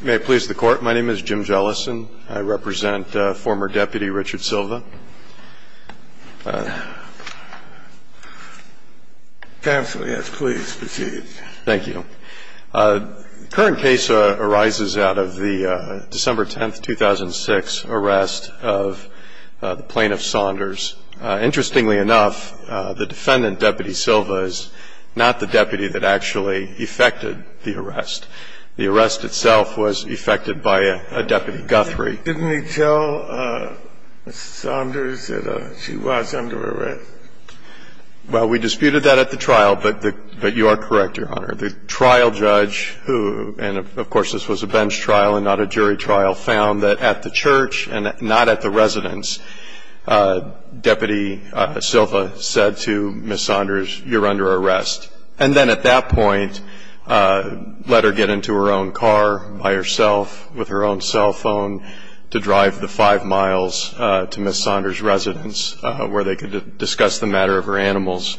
May it please the Court, my name is Jim Jellison. I represent former Deputy Richard Silva. Counsel, yes, please proceed. Thank you. Current case arises out of the December 10th, 2006 arrest of Plaintiff Saunders. Interestingly enough, the defendant, Deputy Silva, is not the deputy that actually effected the arrest. The arrest itself was effected by a Deputy Guthrie. Didn't he tell Ms. Saunders that she was under arrest? Well, we disputed that at the trial, but you are correct, Your Honor. The trial judge, who, and of course this was a bench trial and not a jury trial, found that at the church and not at the residence, Deputy Silva said to Ms. Saunders, you're under arrest. And then at that point, let her get into her own car by herself, with her own cell phone, to drive the five miles to Ms. Saunders' residence, where they could discuss the matter of her animals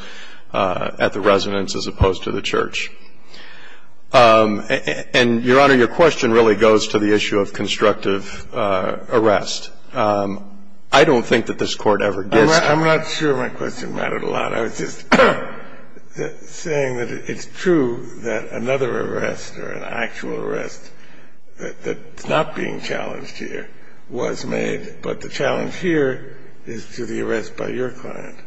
at the residence, as opposed to the church. And, Your Honor, your question really goes to the issue of constructive arrest. I don't think that this Court ever gets to that. I'm not sure my question mattered a lot. I was just saying that it's true that another arrest or an actual arrest that's not being challenged here was made. But the challenge here is to the arrest by your client.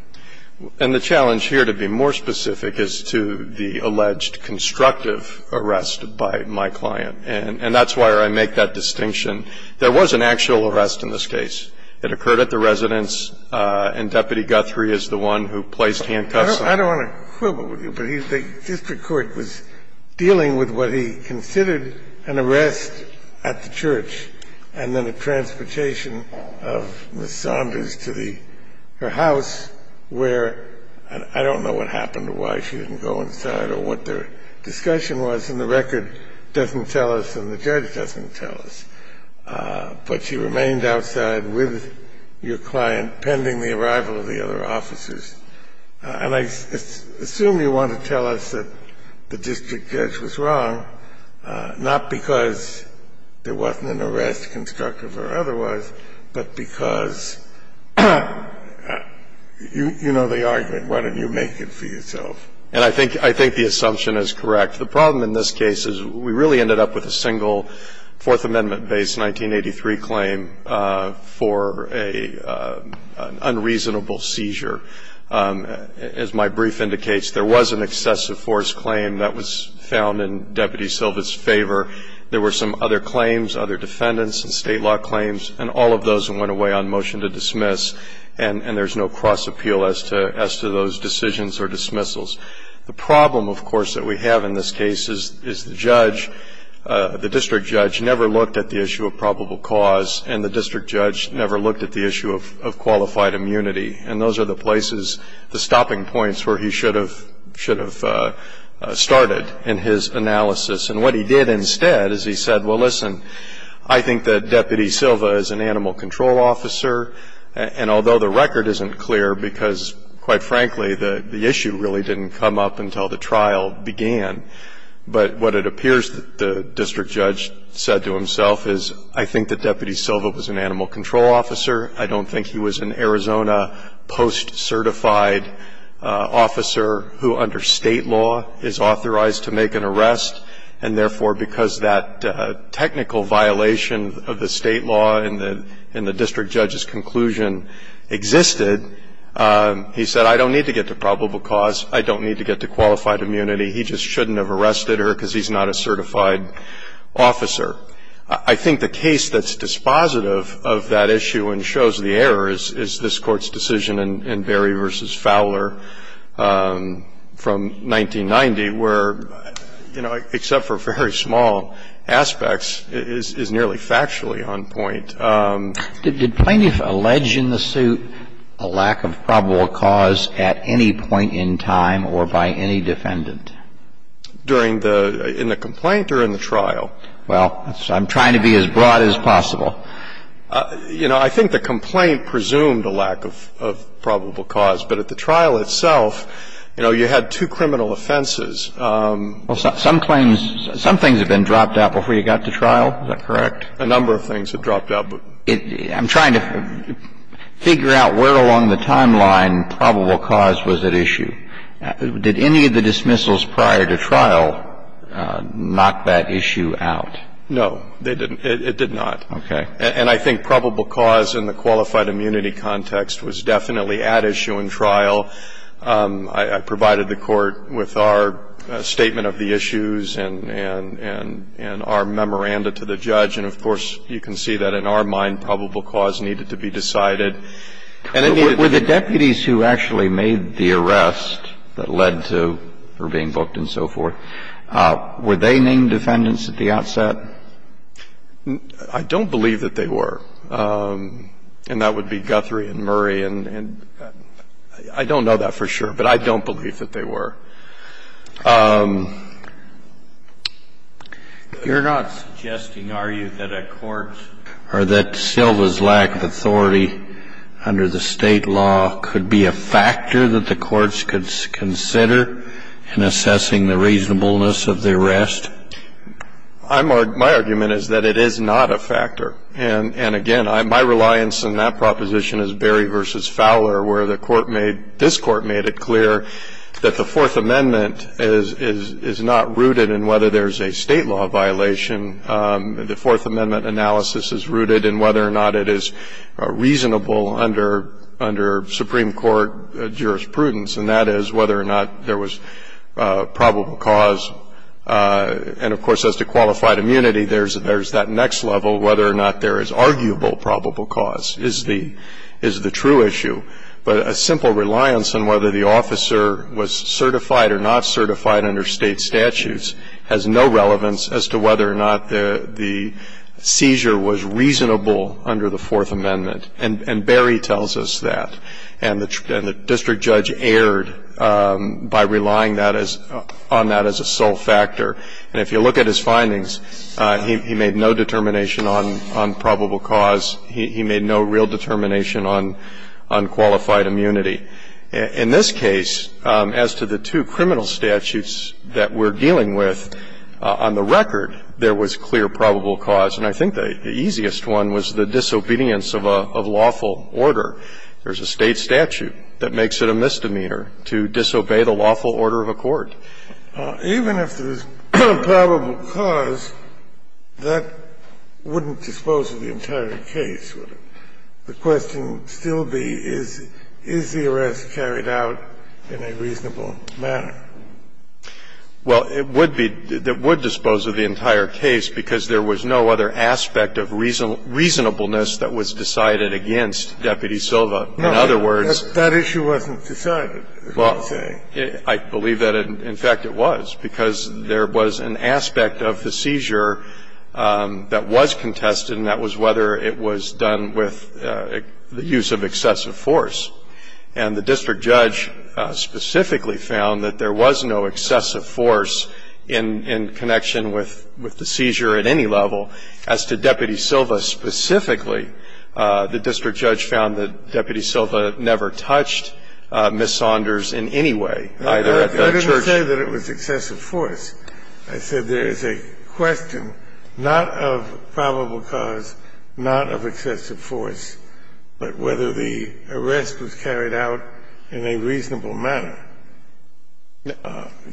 And the challenge here, to be more specific, is to the alleged constructive arrest by my client. And that's where I make that distinction. There was an actual arrest in this case. It occurred at the residence, and I don't want to quibble with you, but the district court was dealing with what he considered an arrest at the church, and then a transportation of Ms. Saunders to the her house, where I don't know what happened or why she didn't go inside or what their discussion was, and the record doesn't tell us and the judge doesn't tell us, but she remained outside with your client pending the arrival of the other officers. And I assume you want to tell us that the district judge was wrong, not because there wasn't an arrest, constructive or otherwise, but because you know the argument. Why don't you make it for yourself? And I think the assumption is correct. The problem in this case is we really ended up with a single Fourth Amendment-based 1983 claim for an unreasonable seizure. As my brief indicates, there was an excessive force claim that was found in Deputy Silva's favor. There were some other claims, other defendants and state law claims, and all of those went away on motion to dismiss. And there's no cross appeal as to those decisions or dismissals. The problem, of course, that we have in this case is the district judge never looked at the issue of probable cause and the district judge never looked at the issue of qualified immunity. And those are the places, the stopping points where he should have started in his analysis. And what he did instead is he said, well, listen, I think that Deputy Silva is an animal control officer. And although the record isn't clear because, quite frankly, the issue really didn't come up until the trial began. But what it appears that the district judge said to himself is, I think that Deputy Silva was an animal control officer. I don't think he was an Arizona post-certified officer who under state law is authorized to make an arrest. And therefore, because that technical violation of the state law in the district judge's conclusion existed, he said, I don't need to get to probable cause, I don't need to get to qualified immunity. He just shouldn't have arrested her because he's not a certified officer. I think the case that's dispositive of that issue and shows the error is this Court's decision in Berry v. Fowler from 1990, where except for very small aspects, is nearly factually on point. Did plaintiff allege in the suit a lack of probable cause at any point in time or by any defendant? During the – in the complaint or in the trial? Well, I'm trying to be as broad as possible. You know, I think the complaint presumed a lack of probable cause. But at the trial itself, you know, you had two criminal offenses. Some claims – some things have been dropped out before you got to trial. Is that correct? A number of things have dropped out. I'm trying to figure out where along the timeline probable cause was at issue. Did any of the dismissals prior to trial knock that issue out? No, they didn't. It did not. Okay. And I think probable cause in the qualified immunity context was definitely at issue in trial. I provided the Court with our statement of the issues and our memoranda to the judge. And, of course, you can see that in our mind probable cause needed to be decided. Were the deputies who actually made the arrest that led to her being booked and so forth, were they named defendants at the outset? I don't believe that they were. And that would be Guthrie and Murray and – I don't know that for sure, but I don't believe that they were. You're not suggesting, are you, that a court or that Silva's lack of authority under the state law could be a factor that the courts could consider in assessing the reasonableness of the arrest? My argument is that it is not a factor. And, again, my reliance in that proposition is Berry v. Fowler, where the court made – this court made it clear that the Fourth Amendment is not rooted in whether there's a state law violation. The Fourth Amendment analysis is rooted in whether or not it is reasonable under Supreme Court jurisprudence. And that is whether or not there was probable cause. And, of course, as to qualified immunity, there's that next level, whether or not there is arguable probable cause, is the true issue. But a simple reliance on whether the officer was certified or not certified under state statutes has no relevance as to whether or not the seizure was reasonable under the Fourth Amendment. And Berry tells us that. And the district judge erred by relying on that as a sole factor. And if you look at his findings, he made no determination on probable cause. He made no real determination on qualified immunity. In this case, as to the two criminal statutes that we're dealing with, on the record, there was clear probable cause. And I think the easiest one was the disobedience of a lawful order. There's a state statute that makes it a misdemeanor to disobey the lawful order of a court. Scalia. Even if there's probable cause, that wouldn't dispose of the entire case, would it? The question would still be, is the arrest carried out in a reasonable manner? Well, it would be that it would dispose of the entire case, because there was no other aspect of reasonableness that was decided against Deputy Silva. In other words That issue wasn't decided, you're saying. I believe that, in fact, it was, because there was an aspect of the seizure that was contested, and that was whether it was done with the use of excessive force. And the district judge specifically found that there was no excessive force in connection with the seizure at any level. As to Deputy Silva specifically, the district judge found that Deputy Silva never touched Ms. Saunders in any way, either at the church. I didn't say that it was excessive force. I said there is a question not of probable cause, not of excessive force, but whether the arrest was carried out in a reasonable manner.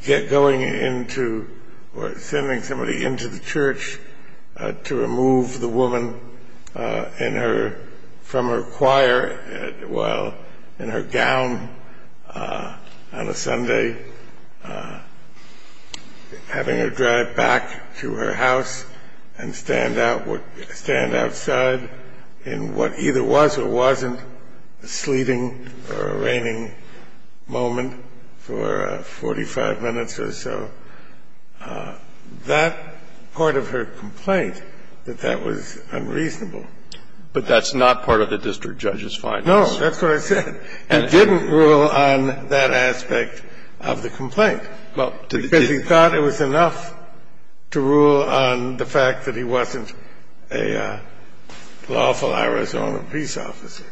Going into or sending somebody into the church to remove the woman in her – from having her drive back to her house and stand outside in what either was or wasn't a sleeting or a raining moment for 45 minutes or so, that part of her complaint, that that was unreasonable. But that's not part of the district judge's findings. No, that's what I said. And didn't rule on that aspect of the complaint. Because he thought it was enough to rule on the fact that he wasn't a lawful Arizona peace officer.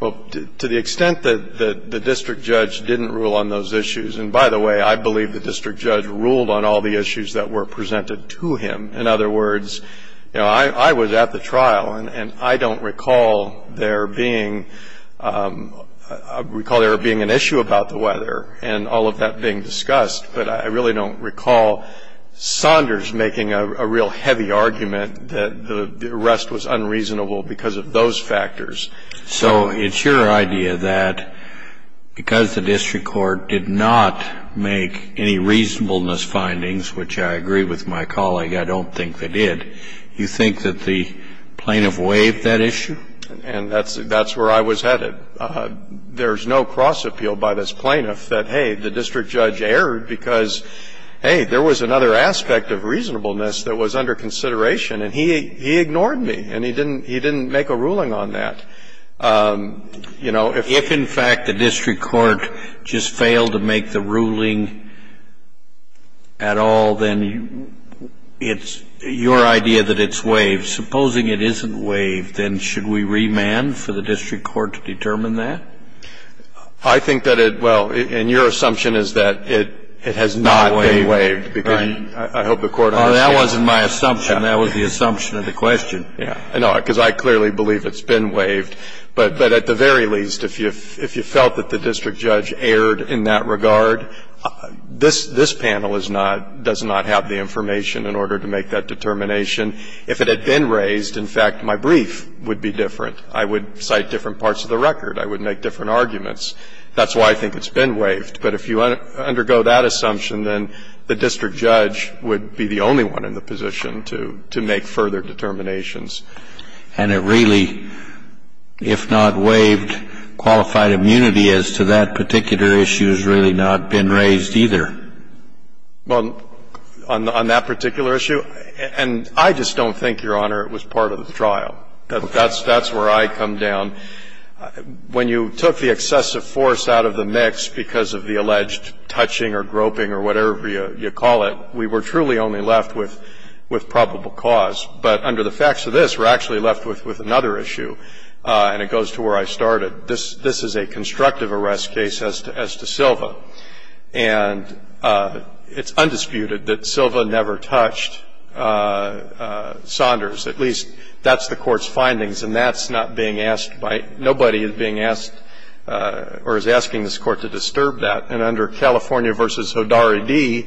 Well, to the extent that the district judge didn't rule on those issues – and by the way, I believe the district judge ruled on all the issues that were presented to him. In other words, you know, I was at the trial, and I don't recall there being – I recall there being an issue about the weather and all of that being discussed, but I really don't recall Saunders making a real heavy argument that the arrest was unreasonable because of those factors. So it's your idea that because the district court did not make any reasonableness findings, which I agree with my colleague, I don't think they did, you think that the plaintiff waived that issue? And that's where I was headed. I was told that there's no cross-appeal by this plaintiff, that, hey, the district judge erred because, hey, there was another aspect of reasonableness that was under consideration, and he ignored me, and he didn't make a ruling on that. You know, if in fact the district court just failed to make the ruling at all, then it's your idea that it's waived. If supposing it isn't waived, then should we remand for the district court to determine that? I think that it – well, and your assumption is that it has not been waived, because I hope the court understands. Well, that wasn't my assumption. That was the assumption of the question. Yeah. No, because I clearly believe it's been waived, but at the very least, if you felt that the district judge erred in that regard, this panel is not – does not have the information in order to make that determination. If it had been raised, in fact, my brief would be different. I would cite different parts of the record. I would make different arguments. That's why I think it's been waived. But if you undergo that assumption, then the district judge would be the only one in the position to make further determinations. And it really, if not waived, qualified immunity as to that particular issue has really not been raised either. Well, on that particular issue, and I just don't think, Your Honor, it was part of the trial. That's where I come down. When you took the excessive force out of the mix because of the alleged touching or groping or whatever you call it, we were truly only left with probable cause. But under the facts of this, we're actually left with another issue, and it goes to where I started. This is a constructive arrest case as to Silva. And it's undisputed that Silva never touched Saunders. At least, that's the Court's findings, and that's not being asked by ñ nobody is being asked or is asking this Court to disturb that. And under California v. Hodari D,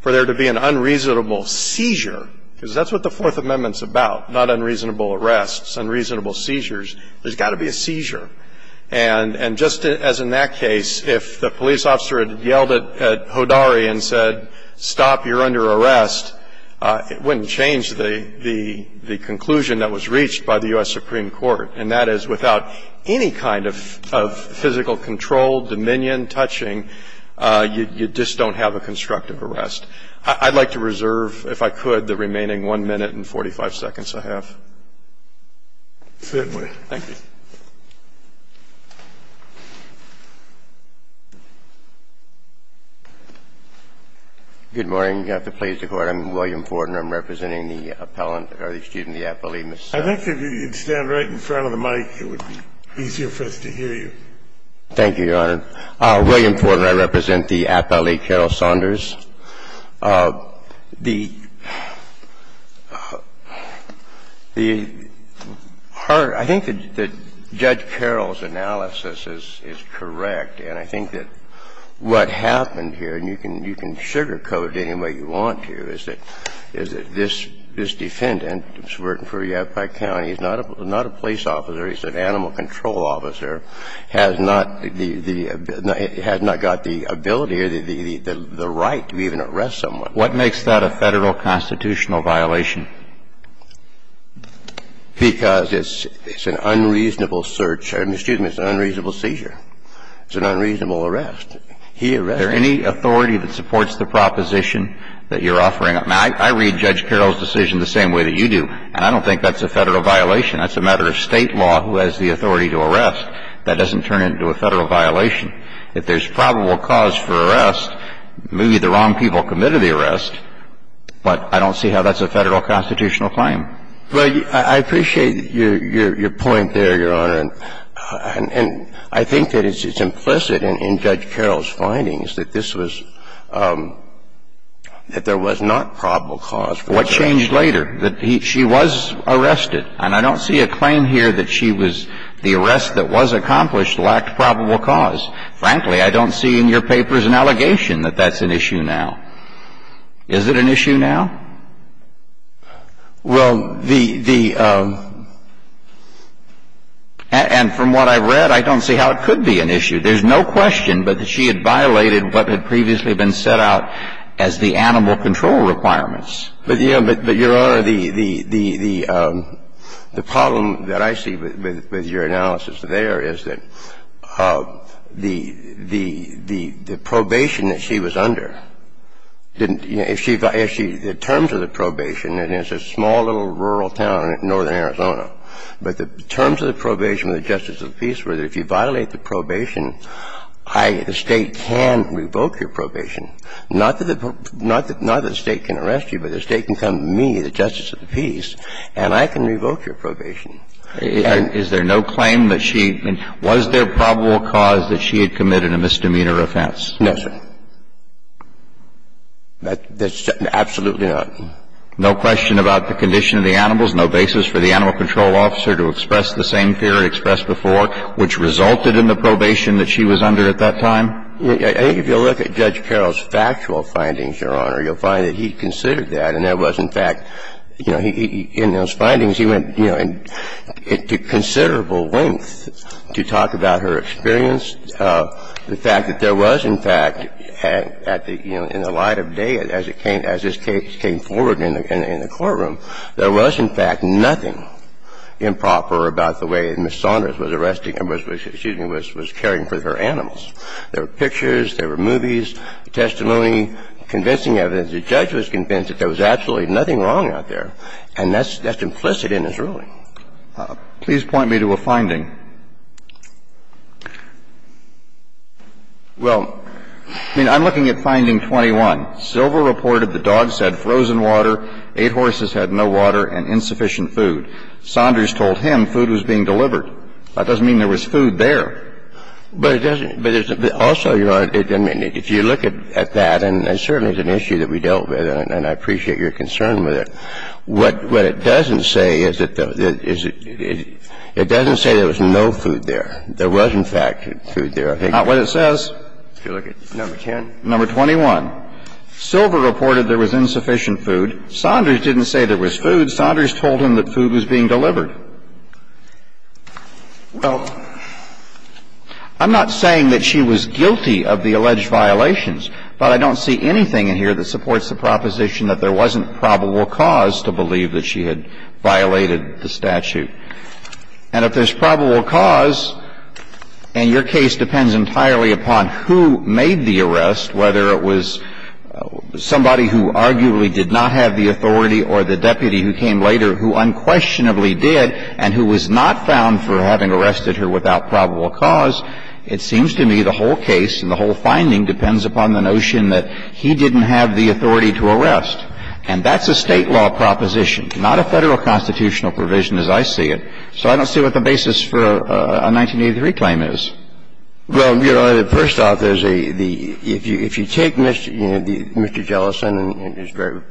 for there to be an unreasonable seizure, because that's what the Fourth Amendment's about, not unreasonable arrests, unreasonable seizures. There's got to be a seizure. And just as in that case, if the police officer had yelled at Hodari and said, stop, you're under arrest, it wouldn't change the conclusion that was reached by the U.S. Supreme Court. And that is, without any kind of physical control, dominion, touching, you just don't have a constructive arrest. I'd like to reserve, if I could, the remaining 1 minute and 45 seconds I have. Thank you, Your Honor. Certainly. Thank you. Good morning. You have the pleasure, Your Honor. I'm William Forden. I'm representing the appellant, or excuse me, the appellee, Ms. Saunders. I think if you could stand right in front of the mic, it would be easier for us to hear you. Thank you, Your Honor. William Forden. I represent the appellee, Carol Saunders. The hard – I think that Judge Carol's analysis is correct, and I think that what happened here, and you can sugarcoat it any way you want to, is that this defendant who's working for Yavapai County is not a police officer, he's an animal control officer, has not the – has not got the ability or the right to be a police officer and has not got the right to be even arrest someone. What makes that a Federal constitutional violation? Because it's an unreasonable search – excuse me, it's an unreasonable seizure. It's an unreasonable arrest. He arrested him. Is there any authority that supports the proposition that you're offering? Now, I read Judge Carol's decision the same way that you do, and I don't think that's a Federal violation. That's a matter of State law who has the authority to arrest. That doesn't turn into a Federal violation. If there's probable cause for arrest, maybe the wrong people committed the arrest, but I don't see how that's a Federal constitutional claim. Well, I appreciate your point there, Your Honor. And I think that it's implicit in Judge Carol's findings that this was – that there was not probable cause for arrest. What changed later? I don't see a claim here that she was arrested, and I don't see a claim here that she was – the arrest that was accomplished lacked probable cause. Frankly, I don't see in your papers an allegation that that's an issue now. Is it an issue now? Well, the – and from what I've read, I don't see how it could be an issue. There's no question but that she had violated what had previously been set out as the probable cause for arrest. And I don't see a claim here that that's an issue now. Your Honor, the – the problem that I see with your analysis there is that the – the probation that she was under didn't – if she – the terms of the probation, and it's a small little rural town in northern Arizona, but the terms of the probation were that if you violate the probation, I, the State, can revoke your probation. Not that the – not that the State can arrest you, but the State can come to me, the justice of the peace, and I can revoke your probation. Is there no claim that she – was there probable cause that she had committed a misdemeanor offense? No, sir. That's absolutely not. No question about the condition of the animals, no basis for the animal control officer to express the same fear expressed before, which resulted in the probation that she was under at that time? If you look at Judge Carroll's factual findings, Your Honor, you'll find that he considered that, and there was, in fact, you know, he – in those findings, he went, you know, into considerable length to talk about her experience. The fact that there was, in fact, at the – you know, in the light of day, as it came forward in the courtroom, there was, in fact, nothing improper about the way that Ms. Saunders was arresting – excuse me, was caring for her animals. There were pictures, there were movies, testimony, convincing evidence. The judge was convinced that there was absolutely nothing wrong out there, and that's implicit in his ruling. Please point me to a finding. Well, I mean, I'm looking at finding 21. Silver reported the dogs had frozen water, eight horses had no water, and insufficient food. Saunders told him food was being delivered. That doesn't mean there was food there. But it doesn't – but there's also, Your Honor, I mean, if you look at that, and certainly it's an issue that we dealt with, and I appreciate your concern with it. What it doesn't say is that the – it doesn't say there was no food there. There was, in fact, food there. Not what it says. If you look at number 10. Number 21. Silver reported there was insufficient food. Saunders didn't say there was food. Saunders told him that food was being delivered. Well, I'm not saying that she was guilty of the alleged violations, but I don't see anything in here that supports the proposition that there wasn't probable cause to believe that she had violated the statute. And if there's probable cause, and your case depends entirely upon who made the arrest, whether it was somebody who arguably did not have the authority or the deputy who came later who unquestionably did and who was not found for having arrested her without probable cause, it seems to me the whole case and the whole finding depends upon the notion that he didn't have the authority to arrest. And that's a State law proposition, not a Federal constitutional provision as I see it. So I don't see what the basis for a 1983 claim is. Well, Your Honor, first off, if you take Mr. Jellison and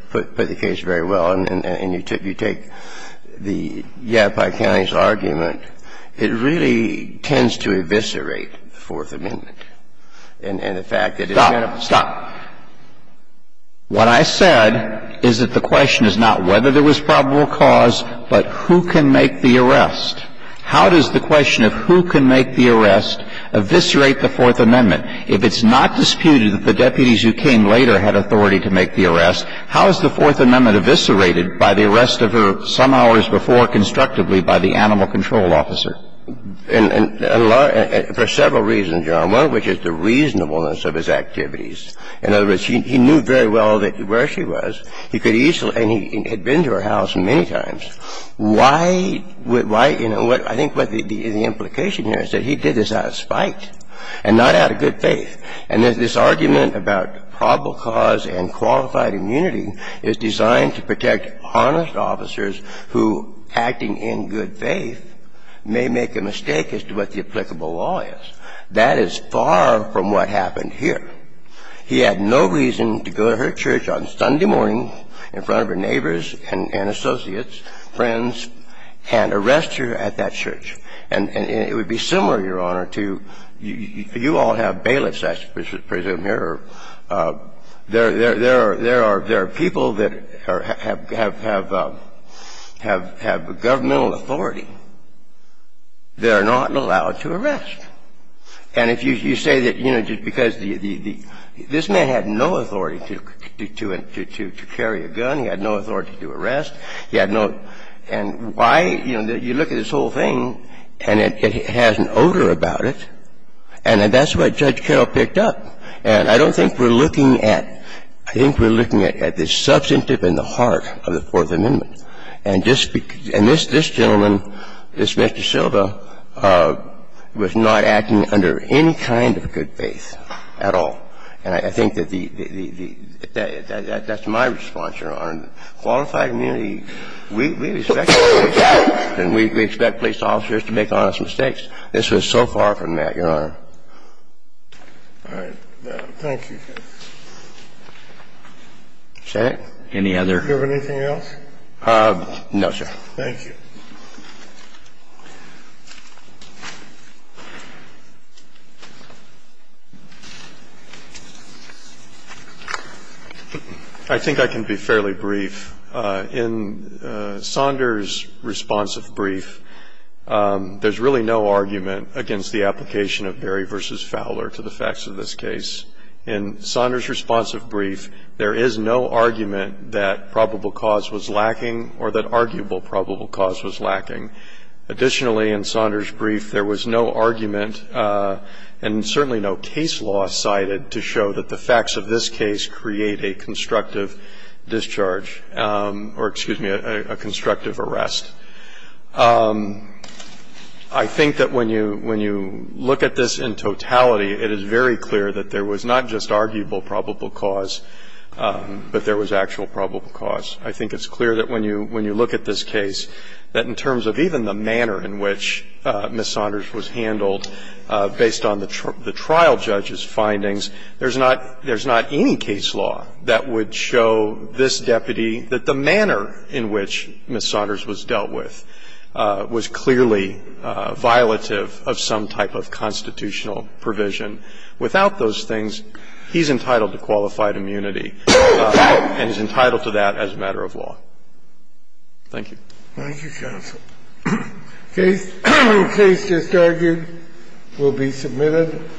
put the case very well and you take the Yadapai County's argument, it really tends to eviscerate the Fourth Amendment and the fact that it's going to be. Stop. Stop. What I said is that the question is not whether there was probable cause, but who can make the arrest. How does the question of who can make the arrest eviscerate the Fourth Amendment? If it's not disputed that the deputies who came later had authority to make the arrest, how is the Fourth Amendment eviscerated by the arrest of her some hours before constructively by the animal control officer? For several reasons, Your Honor, one of which is the reasonableness of his activities. In other words, he knew very well where she was. He could easily – and he had been to her house many times. Why – you know, I think what the implication here is that he did this out of spite and not out of good faith. And this argument about probable cause and qualified immunity is designed to protect honest officers who, acting in good faith, may make a mistake as to what the applicable law is. That is far from what happened here. He had no reason to go to her church on Sunday morning in front of her neighbors and associates, friends, and arrest her at that church. And it would be similar, Your Honor, to – you all have bailiffs, I presume, here. There are people that have governmental authority. They're not allowed to arrest. And if you say that, you know, because the – this man had no authority to carry a gun. He had no authority to arrest. He had no – and why – you know, you look at this whole thing, and it has an odor about it, and that's what Judge Carroll picked up. And I don't think we're looking at – I think we're looking at the substantive and the heart of the Fourth Amendment. And this gentleman, this Mr. Silva, was not acting under any kind of good faith at all. And I think that the – that's my response, Your Honor. Qualified immunity, we respect police officers, and we expect police officers to make honest mistakes. This was so far from that, Your Honor. All right. Thank you, sir. Is that it? Any other? Do you have anything else? No, sir. Thank you. I think I can be fairly brief. In Saunders' responsive brief, there's really no argument against the application of Berry v. Fowler to the facts of this case. In Saunders' responsive brief, there is no argument that probable cause was lacking or that arguable probable cause was lacking. Additionally, in Saunders' brief, there was no argument and certainly no case law cited to show that the facts of this case create a constructive discharge or, excuse me, a constructive arrest. I think that when you look at this in totality, it is very clear that there was not just arguable probable cause, but there was actual probable cause. I think it's clear that when you look at this case, that in terms of even the manner in which Ms. Saunders was handled based on the trial judge's findings, there's not any case law that would show this deputy that the manner in which Ms. Saunders was dealt with was clearly violative of some type of constitutional provision. Without those things, he's entitled to qualified immunity, and he's entitled to that as a matter of law. Thank you. Thank you, counsel. The case just argued will be submitted.